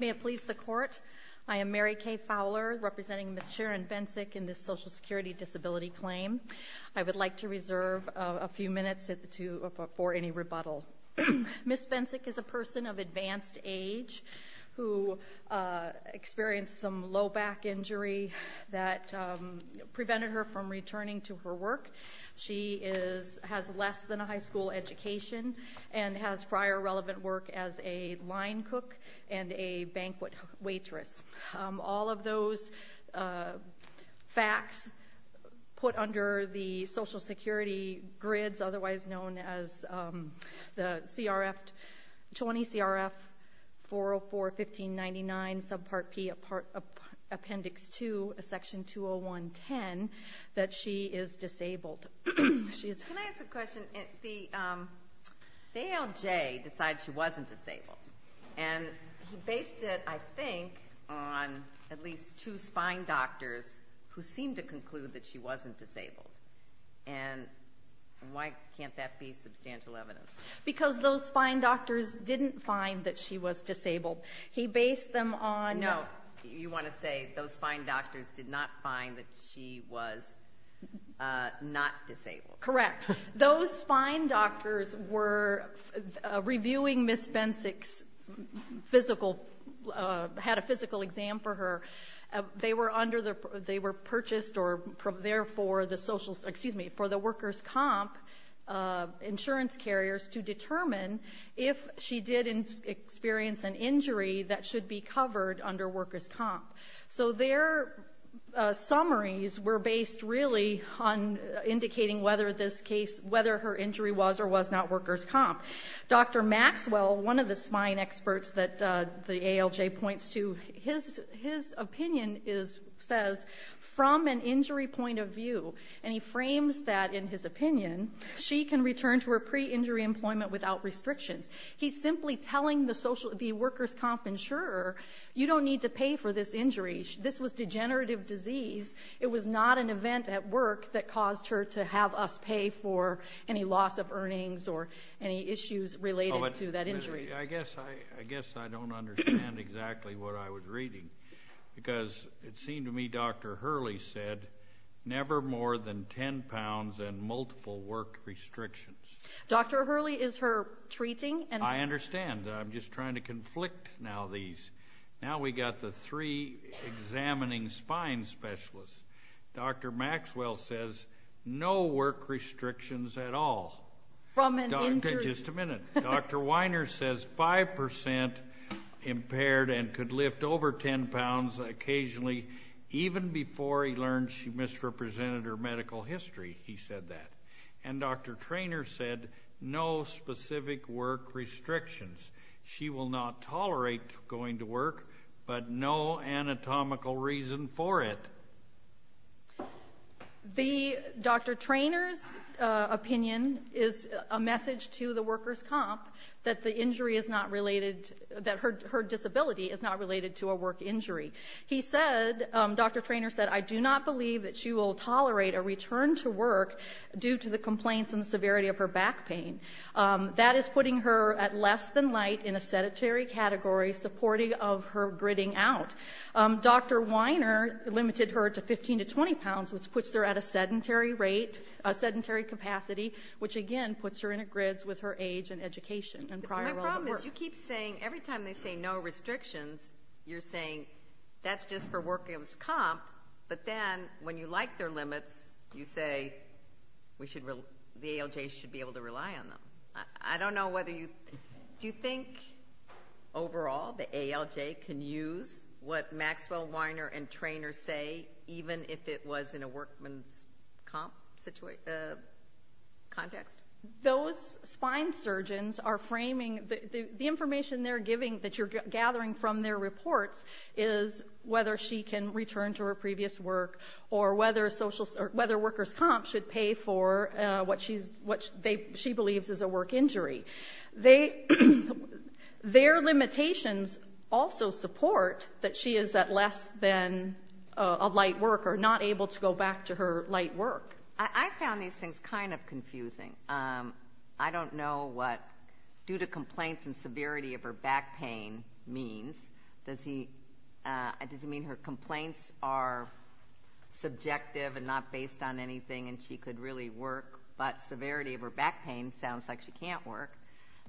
May it please the Court, I am Mary Kay Fowler, representing Ms. Sharon Bencic in this Social Security Disability Claim. I would like to reserve a few minutes for any rebuttal. Ms. Bencic is a person of advanced age who experienced some low back injury that prevented her from a high school education and has prior relevant work as a line cook and a banquet waitress. All of those facts put under the Social Security grids, otherwise known as the CRF 20 CRF 404-1599 subpart P, appendix 2, section 201-10, that she is disabled. Can I ask a question? The ALJ decides she wasn't disabled and he based it, I think, on at least two spine doctors who seemed to conclude that she wasn't disabled. And why can't that be substantial evidence? Because those spine doctors didn't find that she was disabled. He based them on... No, you want to say those spine doctors did not find that she was not disabled. Correct. Those spine doctors were reviewing Ms. Bencic's physical, had a physical exam for her. They were under the, they were purchased or therefore the social, excuse me, for the worker's comp insurance carriers to determine if she did experience an injury that should be covered under worker's comp. So their summaries were based really on indicating whether this case, whether her injury was or was not worker's comp. Dr. Maxwell, one of the spine experts that the ALJ points to, his opinion is, says, from an injury point of view, and he frames that in his opinion, she can return to her pre-injury employment without restrictions. He's simply telling the worker's comp insurer, you don't need to pay for this injury. This was degenerative disease. It was not an event at work that caused her to have us pay for any loss of earnings or any issues related to that injury. I guess I don't understand exactly what I was reading. Because it seemed to me Dr. Hurley said, never more than 10 pounds and multiple work restrictions. Dr. Hurley is her treating and I understand. I'm just trying to conflict now these. Now we got the three examining spine specialists. Dr. Maxwell says, no work restrictions at all. From an injury Just a minute. Dr. Weiner says, 5% impaired and could lift over 10 pounds occasionally even before he learned she misrepresented her medical history. He said that. And Dr. Traynor said, no specific work restrictions. She will not tolerate going to work, but no anatomical reason for it. The Dr. Traynor's opinion is a message to the worker's comp that the injury is not related that her disability is not related to a work injury. He said, Dr. Traynor said, I do not believe that she will tolerate a return to work due to the complaints and the severity of her back pain. That is putting her at less than light in a sedentary category, supporting of her gritting out. Dr. Weiner limited her to 15 to 20 pounds, which puts her at a sedentary rate, a sedentary capacity, which again puts her in a grits with her age and education and prior work. My problem is you keep saying, every time they say no restrictions, you're saying that's just for worker's comp, but then when you like their limits, you say the ALJ should be able to rely on them. I don't know whether you, do you think overall the ALJ can use what Maxwell, Weiner, and Traynor say even if it was in a workman's comp context? Those spine surgeons are framing, the information they're giving that you're gathering from their reports is whether she can return to her previous work or whether worker's comp should pay for what she believes is a work injury. Their limitations also support that she is at less than a light work or not able to go back to her light work. I found these things kind of confusing. I don't know what due to complaints and severity of her back pain means. Does he, does he mean her complaints are subjective and not based on anything and she could really work, but severity of her back pain sounds like she can't work.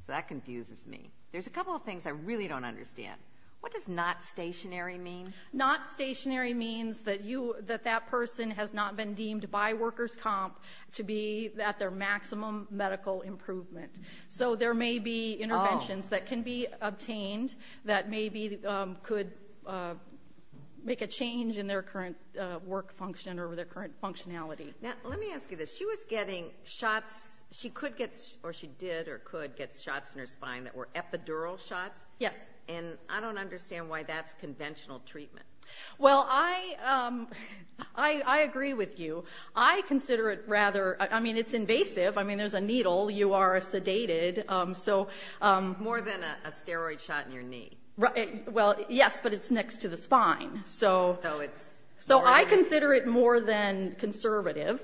So that confuses me. There's a couple of things I really don't understand. What does not stationary mean? Not stationary means that you, that that person has not been deemed by worker's comp to be at their maximum medical improvement. So there may be interventions that can be obtained that maybe could make a change in their current work function or their current functionality. Now let me ask you this. She was getting shots, she could get, or she did or could get shots in her spine that were epidural shots? Yes. And I don't understand why that's conventional treatment. Well I, I agree with you. I consider it rather, I mean it's invasive. I mean there's a needle. You are a sedated, so. More than a steroid shot in your knee. Well yes, but it's next to the spine. So. So it's. So I consider it more than conservative.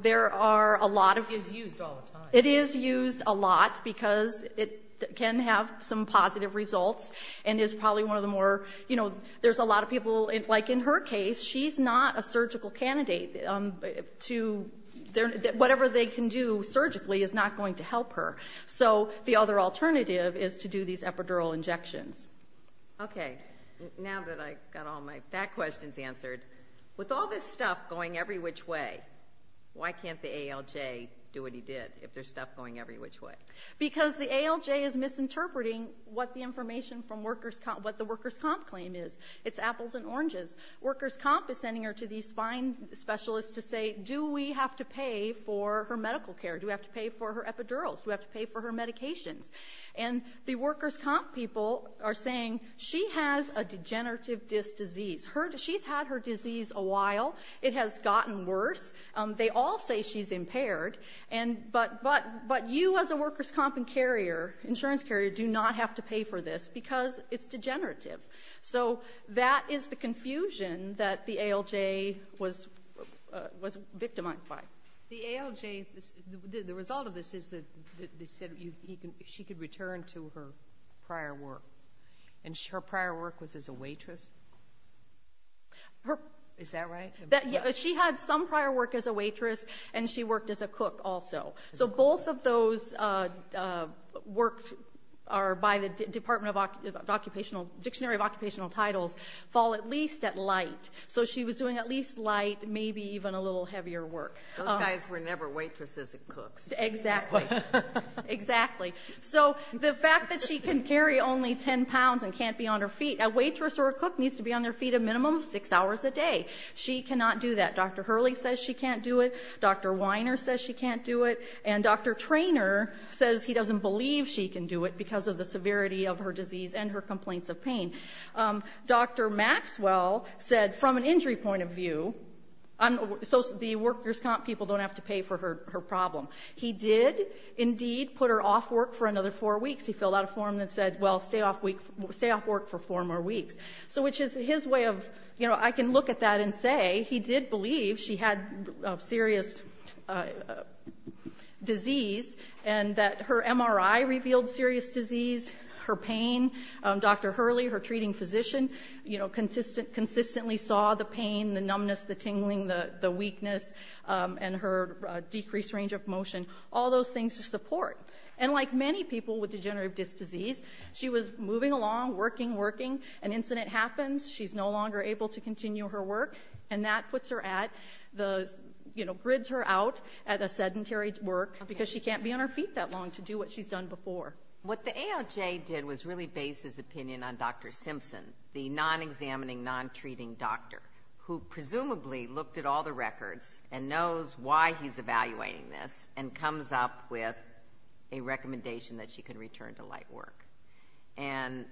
There are a lot of. It's used all the time. It is used a lot because it can have some positive results and is probably one of the more, you know, there's a lot of people, like in her case, she's not a surgical candidate. Whatever they can do surgically is not going to help her. So the other alternative is to do these epidural injections. Okay. Now that I've got all my back questions answered, with all this stuff going every which way, why can't the ALJ do what he did if there's stuff going every which way? Because the ALJ is misinterpreting what the information from workers' comp, what the workers' comp claim is. It's apples and oranges. Workers' comp is sending her to these spine specialists to say, do we have to pay for her medical care? Do we have to pay for her epidurals? Do we have to pay for her medications? And the workers' comp people are saying, she has a degenerative disc disease. Her, she's had her disease a while. It has gotten worse. They all say she's impaired. And, but, but, but you as a workers' comp and carrier, insurance carrier, do not have to pay for this because it's degenerative. So that is the confusion that the ALJ was, was victimized by. The ALJ, the result of this is that they said she could return to her prior work. And her prior work was as a waitress? Is that right? She had some prior work as a waitress and she worked as a cook also. So both of those work are by the Department of Occupational, Dictionary of Occupational Titles, fall at least at light. So she was doing at least light, maybe even a little heavier work. Those guys were never waitresses and cooks. Exactly. Exactly. So the fact that she can carry only 10 pounds and can't be on her feet, a waitress or a cook needs to be on their feet a minimum of six hours a day. She cannot do that. Dr. Hurley says she can't do it. Dr. Weiner says she can't do it. And Dr. Traynor says he doesn't believe she can do it because of the severity of her disease and her complaints of pain. Dr. Maxwell said from an injury point of view, so the workers' comp people don't have to pay for her problem. He did indeed put her off work for another four weeks. He filled out a form that said, well, stay off work for four more weeks. So which is his way of, you know, I can look at that and say he did believe she had serious disease and that her MRI revealed serious disease, her pain. Dr. Hurley, her treating physician, you know, consistently saw the pain, the numbness, the tingling, the weakness, and her decreased range of motion, all those things to support. And like many people with degenerative disc disease, she was moving along, working, working. An incident happens. She's no longer able to continue her work. And that puts her at the, you know, grids her out at a sedentary work because she can't be on her feet that long to do what she's done before. What the AOJ did was really base his opinion on Dr. Simpson, the non-examining, non-treating doctor, who presumably looked at all the records and knows why he's evaluating this and comes up with a recommendation that she can return to light work. And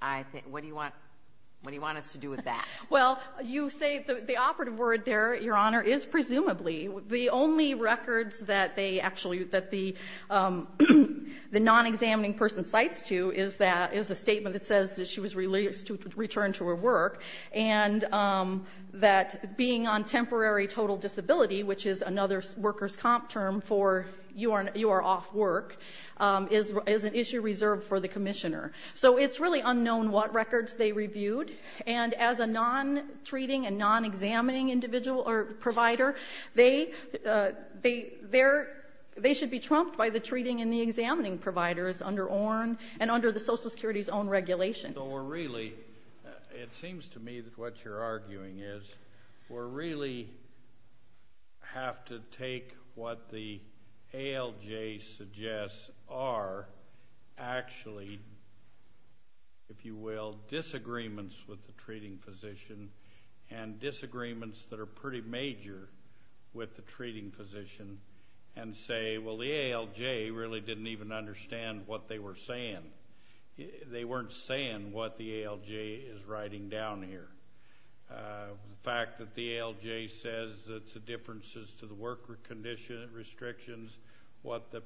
I think, what do you want us to do with that? Well, you say the operative word there, Your Honor, is presumably. The only records that they actually, that the non-examining person cites to is that, is a statement that says that she was released to return to her work and that being on temporary total disability, which is another workers' comp term for you are off work, is an issue reserved for the commissioner. So it's really unknown what records they reviewed. And as a non-treating and non-examining individual or provider, they should be trumped by the treating and the examining providers under the Social Security's own regulations. So we're really, it seems to me that what you're arguing is, we're really have to take what the ALJ suggests are actually, if you will, disagreements with the treating physician and disagreements that are pretty major with the treating physician and say, well, the they weren't saying what the ALJ is writing down here. The fact that the ALJ says that the differences to the worker conditions, restrictions, what the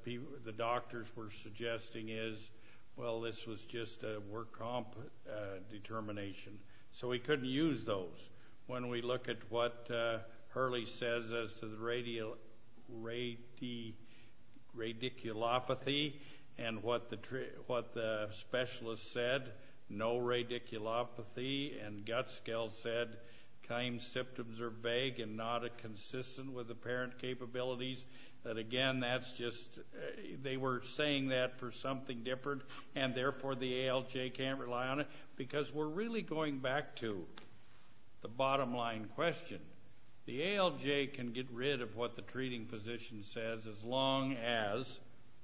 doctors were suggesting is, well, this was just a work comp determination. So we couldn't use those. When we look at what Hurley says as to the radiculopathy and what the, what the, what the, what the, what the specialist said, no radiculopathy, and Gutskill said, time symptoms are vague and not consistent with apparent capabilities, that again, that's just, they were saying that for something different, and therefore the ALJ can't rely on it. Because we're really going back to the bottom line question. The ALJ can get rid of what the treating physician says as long as,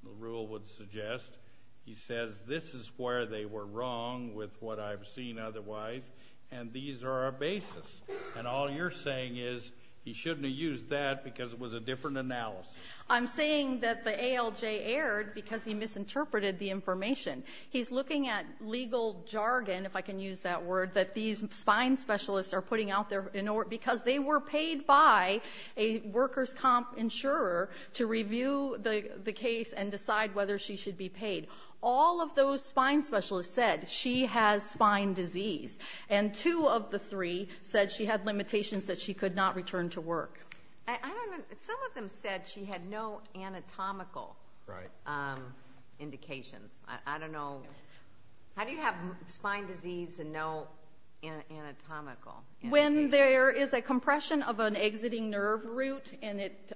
the rule would suggest, he says this is where they were wrong with what I've seen otherwise, and these are our basis. And all you're saying is he shouldn't have used that because it was a different analysis. I'm saying that the ALJ erred because he misinterpreted the information. He's looking at legal jargon, if I can use that word, that these spine specialists are putting out there, because they were paid by a workers' comp insurer to review the case and decide whether she should be paid. All of those spine specialists said she has spine disease, and two of the three said she had limitations that she could not return to work. I don't know, some of them said she had no anatomical indications. I don't know, how can you say that? When there is a compression of an exiting nerve root, and it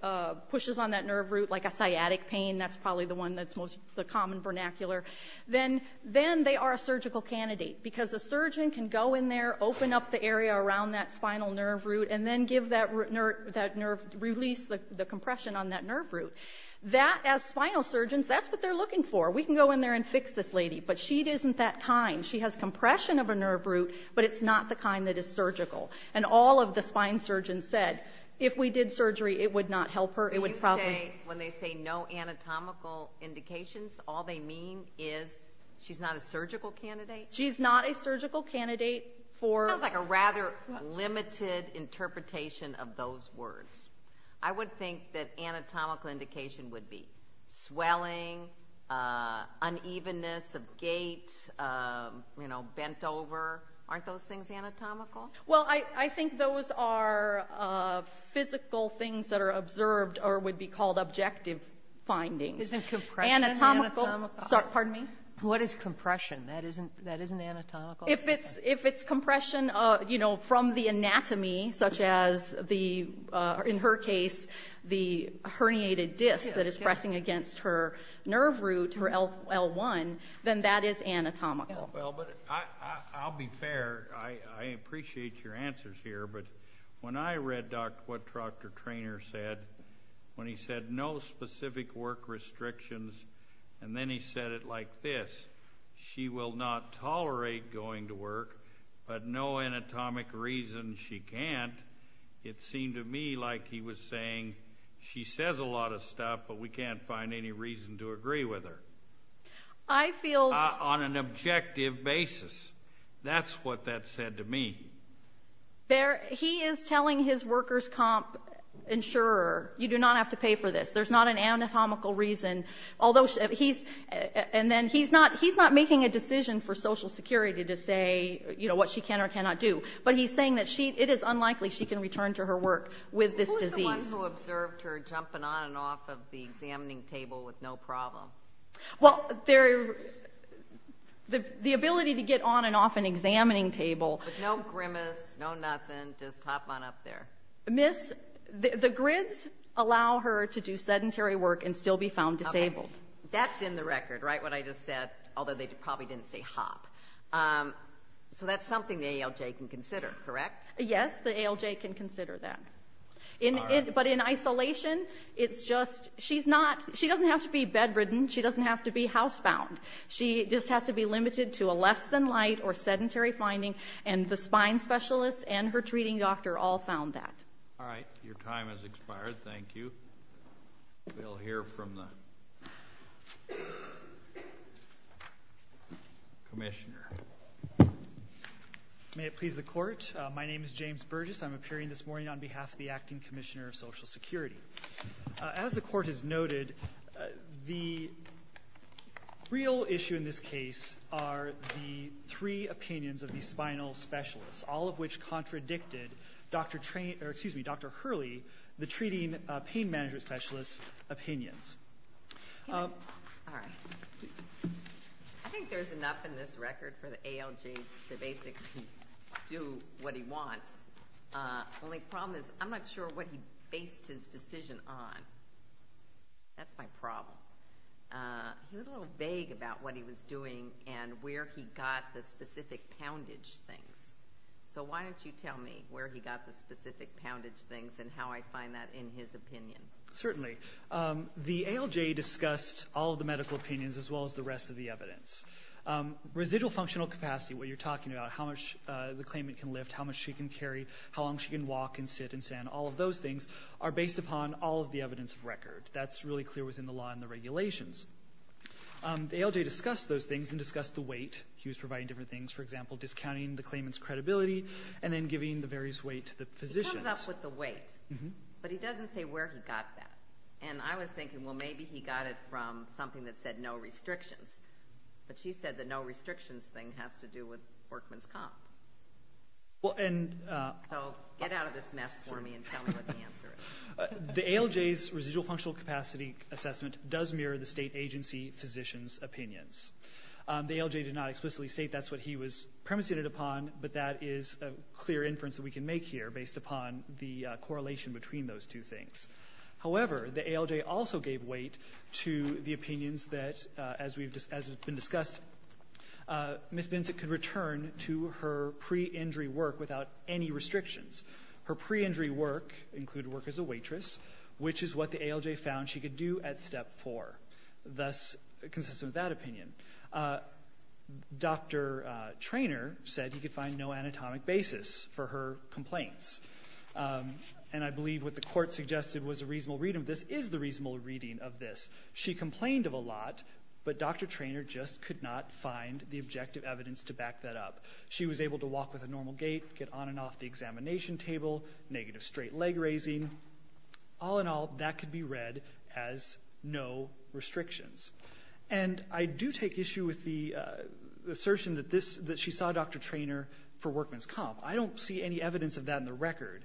pushes on that nerve root like a sciatic pain, that's probably the one that's most, the common vernacular, then they are a surgical candidate. Because a surgeon can go in there, open up the area around that spinal nerve root, and then give that nerve, release the compression on that nerve root. That, as spinal surgeons, that's what they're looking for. We can go in there and fix this lady, but she isn't that kind. She has compression of a nerve root, but it's not the kind that is surgical. And all of the spine surgeons said, if we did surgery, it would not help her, it would probably... You say, when they say no anatomical indications, all they mean is she's not a surgical candidate? She's not a surgical candidate for... It sounds like a rather limited interpretation of those words. I would think that anatomical indication would be swelling, unevenness of gait, bent over. Aren't those things anatomical? Well, I think those are physical things that are observed, or would be called objective findings. Isn't compression anatomical? Pardon me? What is compression? That isn't anatomical? If it's compression, you know, from the anatomy, such as the, in her case, the herniated disc that is pressing against her nerve root, her L1, then that is anatomical. Well, but I'll be fair, I appreciate your answers here, but when I read what Dr. Treanor said, when he said no specific work restrictions, and then he said it like this, she will not tolerate going to work, but no anatomic reason she can't, it seemed to me like he was saying, she says a lot of stuff, but we can't find any reason to agree with her. I feel... On an objective basis, that's what that said to me. He is telling his workers' comp insurer, you do not have to pay for this, there's not an anatomical reason, although he's, and then he's not, he's not making a decision for Social Security to say, you know, what she can or cannot do, but he's saying that it is unlikely she can return to her work with this disease. Who's the one who observed her jumping on and off of the examining table with no problem? Well, the ability to get on and off an examining table... With no grimace, no nothing, just hop on up there. Miss, the grids allow her to do sedentary work and still be found disabled. That's in the record, right, what I just said, although they probably didn't say hop. So that's something the ALJ can consider, correct? Yes, the ALJ can consider that. But in isolation, it's just, she's not, she doesn't have to be bedridden, she doesn't have to be housebound. She just has to be limited to a less-than-light or sedentary finding, and the spine specialists and her treating doctor all found that. All right, your time has expired, thank you. We'll hear from the Commissioner. May it please the Court, my name is James Burgess, I'm appearing this morning on behalf of the Acting Commissioner of Social Security. As the Court has noted, the real issue in this case are the three opinions of the spinal specialists, all of which contradicted Dr. Hurley, the treating pain management specialist's opinions. All right. I think there's enough in this record for the ALJ to basically do what he did. I'm not sure what he based his decision on. That's my problem. He was a little vague about what he was doing and where he got the specific poundage things. So why don't you tell me where he got the specific poundage things and how I find that in his opinion? Certainly. The ALJ discussed all of the medical opinions as well as the rest of the evidence. Residual functional capacity, what you're talking about, how much the claimant can lift, how much she can carry, how long she can walk and sit and stand, all of those things are based upon all of the evidence of record. That's really clear within the law and the regulations. The ALJ discussed those things and discussed the weight. He was providing different things, for example, discounting the claimant's credibility and then giving the various weight to the physicians. It comes up with the weight, but he doesn't say where he got that. And I was thinking, well, maybe he got it from something that said no restrictions. But she said the no restrictions thing has to do with workman's comp. So get out of this mess for me and tell me what the answer is. The ALJ's residual functional capacity assessment does mirror the state agency physician's opinions. The ALJ did not explicitly state that's what he was premissing it upon, but that is a clear inference that we can make here based upon the correlation between those two things. However, the ALJ also gave weight to the opinions that, as has been discussed, Ms. Binsett could return to her pre-injury work without any restrictions. Her pre-injury work included work as a waitress, which is what the ALJ found she could do at Step 4, thus consistent with that opinion. Dr. Treanor said he could find no anatomic basis for her complaints. And I believe what the Court suggested was a reasonable reading of this is the reasonable reading of this. She complained of a lot, but Dr. Treanor just could not find the objective evidence to back that up. She was able to walk with a normal gait, get on and off the examination table, negative straight leg raising. All in all, that could be read as no restrictions. And I do take issue with the assertion that this, that she saw Dr. Treanor for workman's comp. I don't see any evidence of that in the record.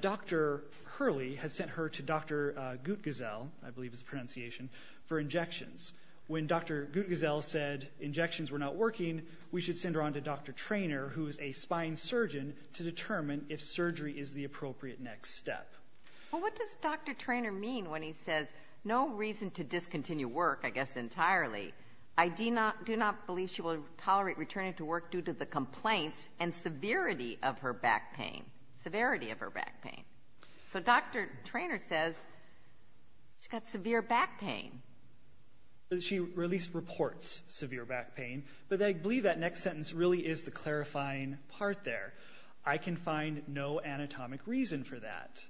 Dr. Hurley had sent her to Dr. Guttgesell, I believe is the pronunciation, for injections. When Dr. Guttgesell said injections were not working, we should send her on to Dr. Treanor, who is a spine surgeon, to determine if surgery is the appropriate next step. Well, what does Dr. Treanor mean when he says, no reason to discontinue work, I guess entirely. I do not believe she will tolerate returning to work due to the complaints and severity of her back pain. Severity of her back pain. So Dr. Treanor says, she's got severe back pain. She released reports of severe back pain, but I believe that next sentence really is the clarifying part there. I can find no anatomic reason for that.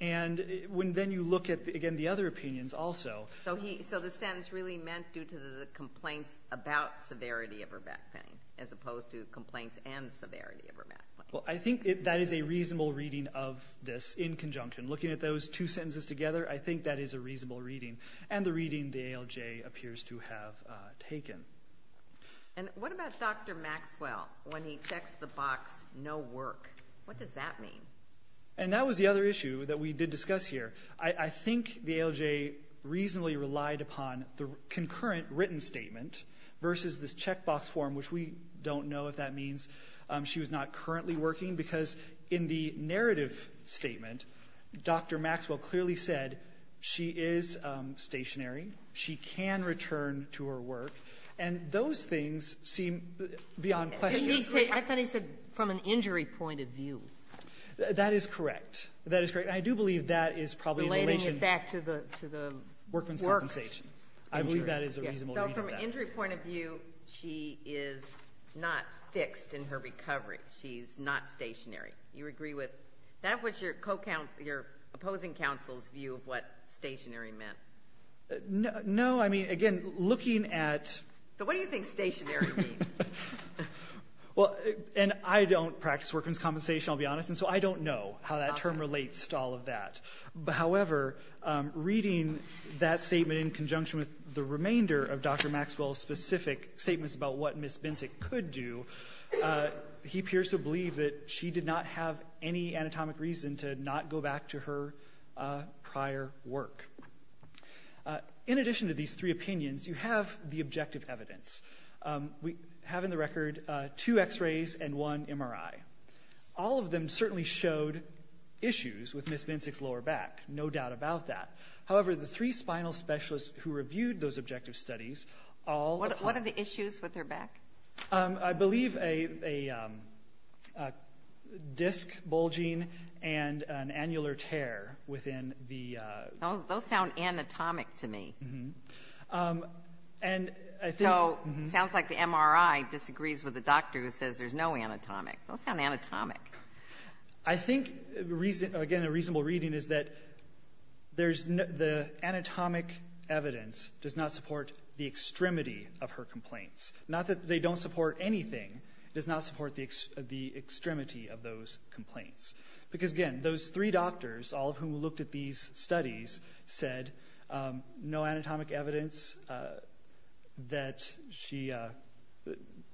And when then you look at, again, the other opinions also. So the sentence really meant due to the complaints about severity of her back pain, as opposed to complaints and severity of her back pain. Well, I think that is a reasonable reading of this in conjunction. Looking at those two sentences together, I think that is a reasonable reading, and the reading the ALJ appears to have taken. And what about Dr. Maxwell, when he checks the box, no work? What does that mean? And that was the other issue that we did discuss here. I think the ALJ reasonably relied upon the concurrent written statement versus this checkbox form, which we don't know if that means she was not currently working. Because in the narrative statement, Dr. Maxwell clearly said she is stationary. She can return to her work. And those things seem beyond question. I thought he said from an injury point of view. That is correct. That is correct. And I do believe that is probably in relation to the work compensation. I believe that is a reasonable reading of that. So from an injury point of view, she is not fixed in her recovery. She is not stationary. You agree with that? That was your opposing counsel's view of what stationary meant. No, I mean, again, looking at... So what do you think stationary means? And I don't practice workman's compensation, I'll be honest, and so I don't know how that statement in conjunction with the remainder of Dr. Maxwell's specific statements about what Ms. Binsick could do, he appears to believe that she did not have any anatomic reason to not go back to her prior work. In addition to these three opinions, you have the objective evidence. We have in the record two x-rays and one MRI. All of them certainly showed issues with Ms. Binsick's lower back, no doubt about that. However, the three spinal specialists who reviewed those objective studies all... What are the issues with her back? I believe a disc bulging and an annular tear within the... Those sound anatomic to me. So it sounds like the MRI disagrees with the doctor who says there's no anatomic. Those sound anatomic. I think, again, a reasonable reading is that the anatomic evidence does not support the extremity of her complaints. Not that they don't support anything, it does not support the extremity of those complaints. Because again, those three doctors, all of whom looked at these studies, said no anatomic evidence that she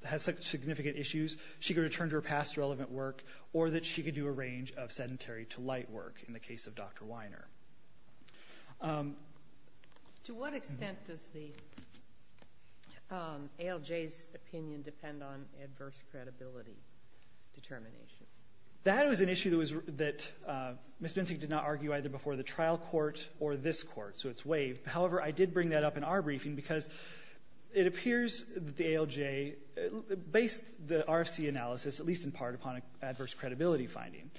has significant issues. She could return to her past relevant work or that she could do a range of sedentary to light work in the case of Dr. Weiner. To what extent does the ALJ's opinion depend on adverse credibility determination? That was an issue that Ms. Binsick did not argue either before the trial court or this court, so it's waived. However, I did bring that up in our briefing because it appears that the ALJ based the RFC analysis, at least in part, upon adverse credibility finding.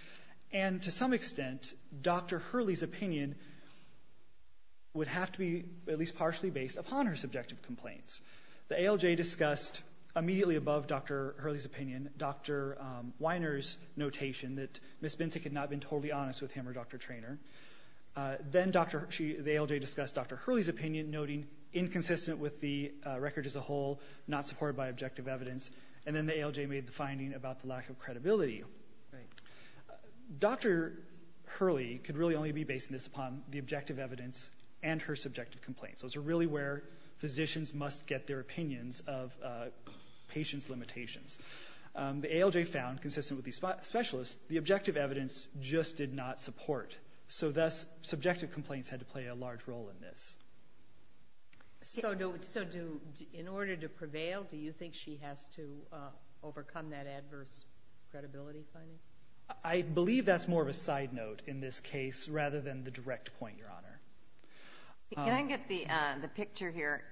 And to some extent, Dr. Hurley's opinion would have to be at least partially based upon her subjective complaints. The ALJ discussed immediately above Dr. Hurley's opinion Dr. Weiner's notation that Ms. Binsick had not been totally honest with him or Dr. Treanor. Then the ALJ discussed Dr. Hurley's opinion, noting inconsistent with the record as a whole, not supported by objective evidence. And then the ALJ made the finding about the lack of credibility. Dr. Hurley could really only be based on this upon the objective evidence and her subjective complaints. Those are really where physicians must get their opinions of patient's limitations. The ALJ found, consistent with these specialists, the objective evidence just did not support. So thus, subjective complaints had to play a large role in this. In order to prevail, do you think she has to overcome that adverse credibility finding? I believe that's more of a side note in this case rather than the direct point, Your Honor. Can I get the picture here?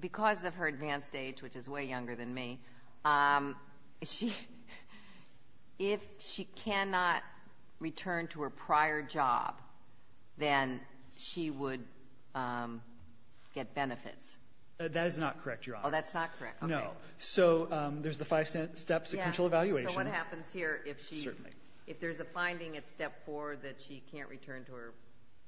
Because of her advanced age, which is way younger than me, if she cannot return to her prior job, then she would get benefits. That is not correct, Your Honor. Oh, that's not correct. Okay. No. So there's the five steps of control evaluation. So what happens here if there's a finding at step four that she can't return to her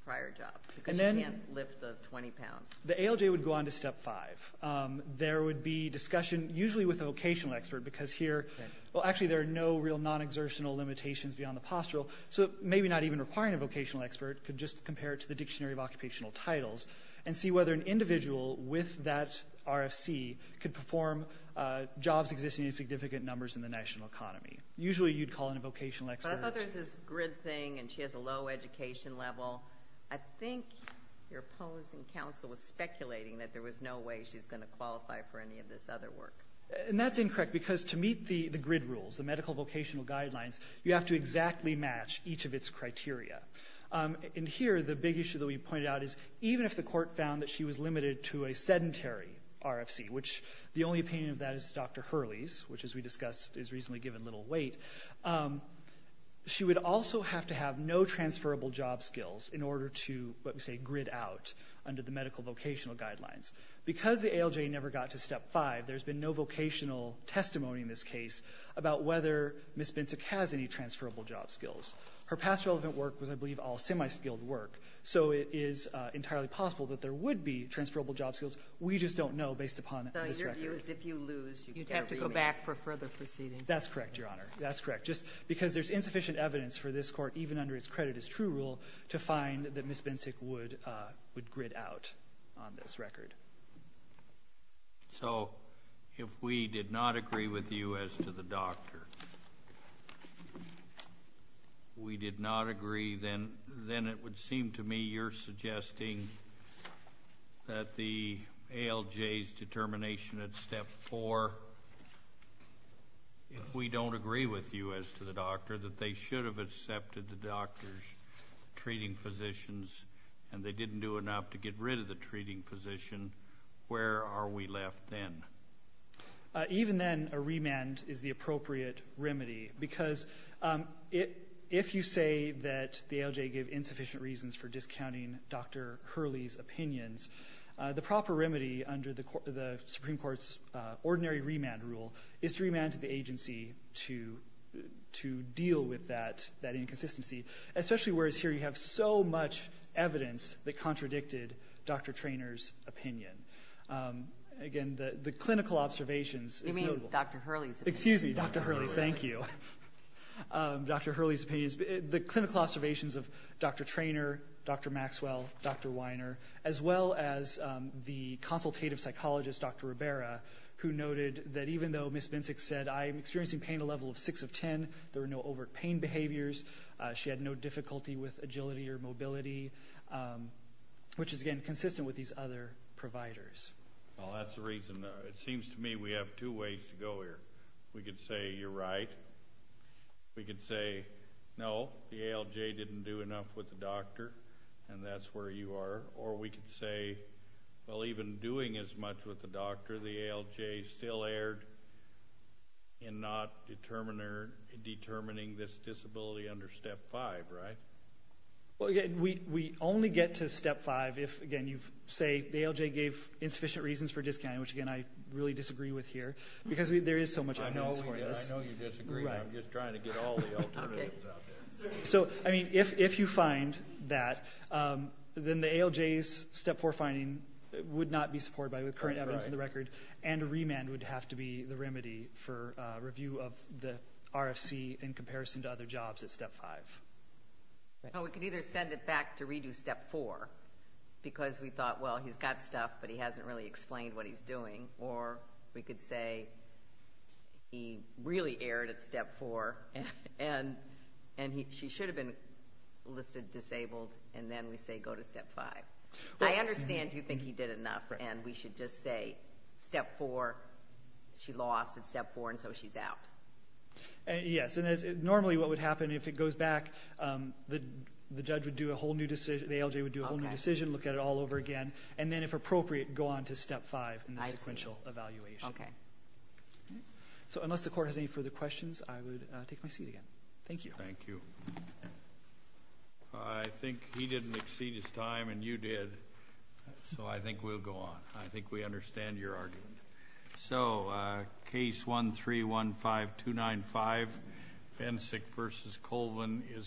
prior job because she can't lift the 20 pounds? The ALJ would go on to step five. There would be discussion, usually with a vocational expert, because here, well, actually there are no real non-exertional limitations beyond the postural, so maybe not even requiring a vocational expert could just compare it to the Dictionary of Occupational Titles and see whether an individual with that RFC could perform jobs existing in significant numbers in the national economy. Usually you'd call in a vocational expert. But I thought there was this grid thing and she has a low education level. I think your opposing counsel was speculating that there was no way she's going to qualify for any of this other work. And that's incorrect, because to meet the grid rules, the medical vocational guidelines, you have to exactly match each of its criteria. And here, the big issue that we pointed out is even if the court found that she was limited to a sedentary RFC, which the only opinion of that is Dr. Hurley's, which, as we discussed, is reasonably given little weight, she would also have to have no transferable job skills in order to, let me say, grid out under the medical vocational guidelines. Because the ALJ never got to Step 5, there's been no vocational testimony in this case about whether Ms. Bintuck has any transferable job skills. Her past relevant work was, I believe, all semiskilled work, so it is entirely possible that there would be transferable job skills. We just don't know based upon this record. Kagan. Ginsburg. Your view is if you lose, you have to go back for further proceedings. That's correct, Your Honor. That's correct. Just because there's insufficient evidence for this court, even under its credit as true rule, to find that Ms. Bintuck would grid out on this record. So if we did not agree with you as to the doctor, we did not agree, then it would seem to me you're suggesting that the ALJ's determination at Step 4, if we don't agree with you as to the doctor, that they should have accepted the doctor's treating physicians, and they didn't do enough to get rid of the treating physician, where are we left then? Even then, a remand is the appropriate remedy. Because if you say that the ALJ gave insufficient reasons for discounting Dr. Hurley's opinions, the proper remedy under the Supreme Court's ordinary remand rule is to remand to the agency to deal with that inconsistency, especially whereas here you have so much evidence that contradicted Dr. Trainor's opinion. Again, the clinical observations is notable. You mean Dr. Hurley's opinion. Excuse me, Dr. Hurley's. Thank you. Dr. Hurley's opinion. The clinical observations of Dr. Trainor, Dr. Maxwell, Dr. Weiner, as well as the consultative psychologist, Dr. Ribera, who noted that even though Ms. Bintuck said, I'm experiencing pain at a level of 6 of 10, there were no overt pain behaviors, she had no difficulty with agility or mobility, which is, again, consistent with these other providers. Well, that's the reason. It seems to me we have two ways to go here. We could say, you're right. We could say, no, the ALJ didn't do enough with the doctor, and that's where you are. Or we could say, well, even doing as much with the doctor, the ALJ still erred in not determining this disability under Step 5, right? Well, again, we only get to Step 5 if, again, you say the ALJ gave insufficient reasons for discounting, which, again, I really disagree with here, because there is so much evidence for this. I know you disagree, but I'm just trying to get all the alternatives out there. So, I mean, if you find that, then the ALJ's Step 4 finding would not be supported by the current evidence in the record, and a remand would have to be the remedy for review of the RFC in comparison to other jobs at Step 5. Well, we could either send it back to redo Step 4, because we thought, well, he's got stuff, but he hasn't really explained what he's doing. Or we could say, he really erred at Step 4, and she should have been listed disabled, and then we say, go to Step 5. I understand you think he did enough, and we should just say, Step 4, she lost at Step 4, and so she's out. Yes, and normally what would happen, if it goes back, the judge would do a whole new decision, the ALJ would do a whole new decision, look at it all over again, and then, if appropriate, go on to Step 5 in the sequential evaluation. I see. Okay. So, unless the Court has any further questions, I would take my seat again. Thank you. Thank you. I think he didn't exceed his time, and you did, so I think we'll go on. I think we understand your argument. So, Case 1315295, Bencik v. Colvin is submitted.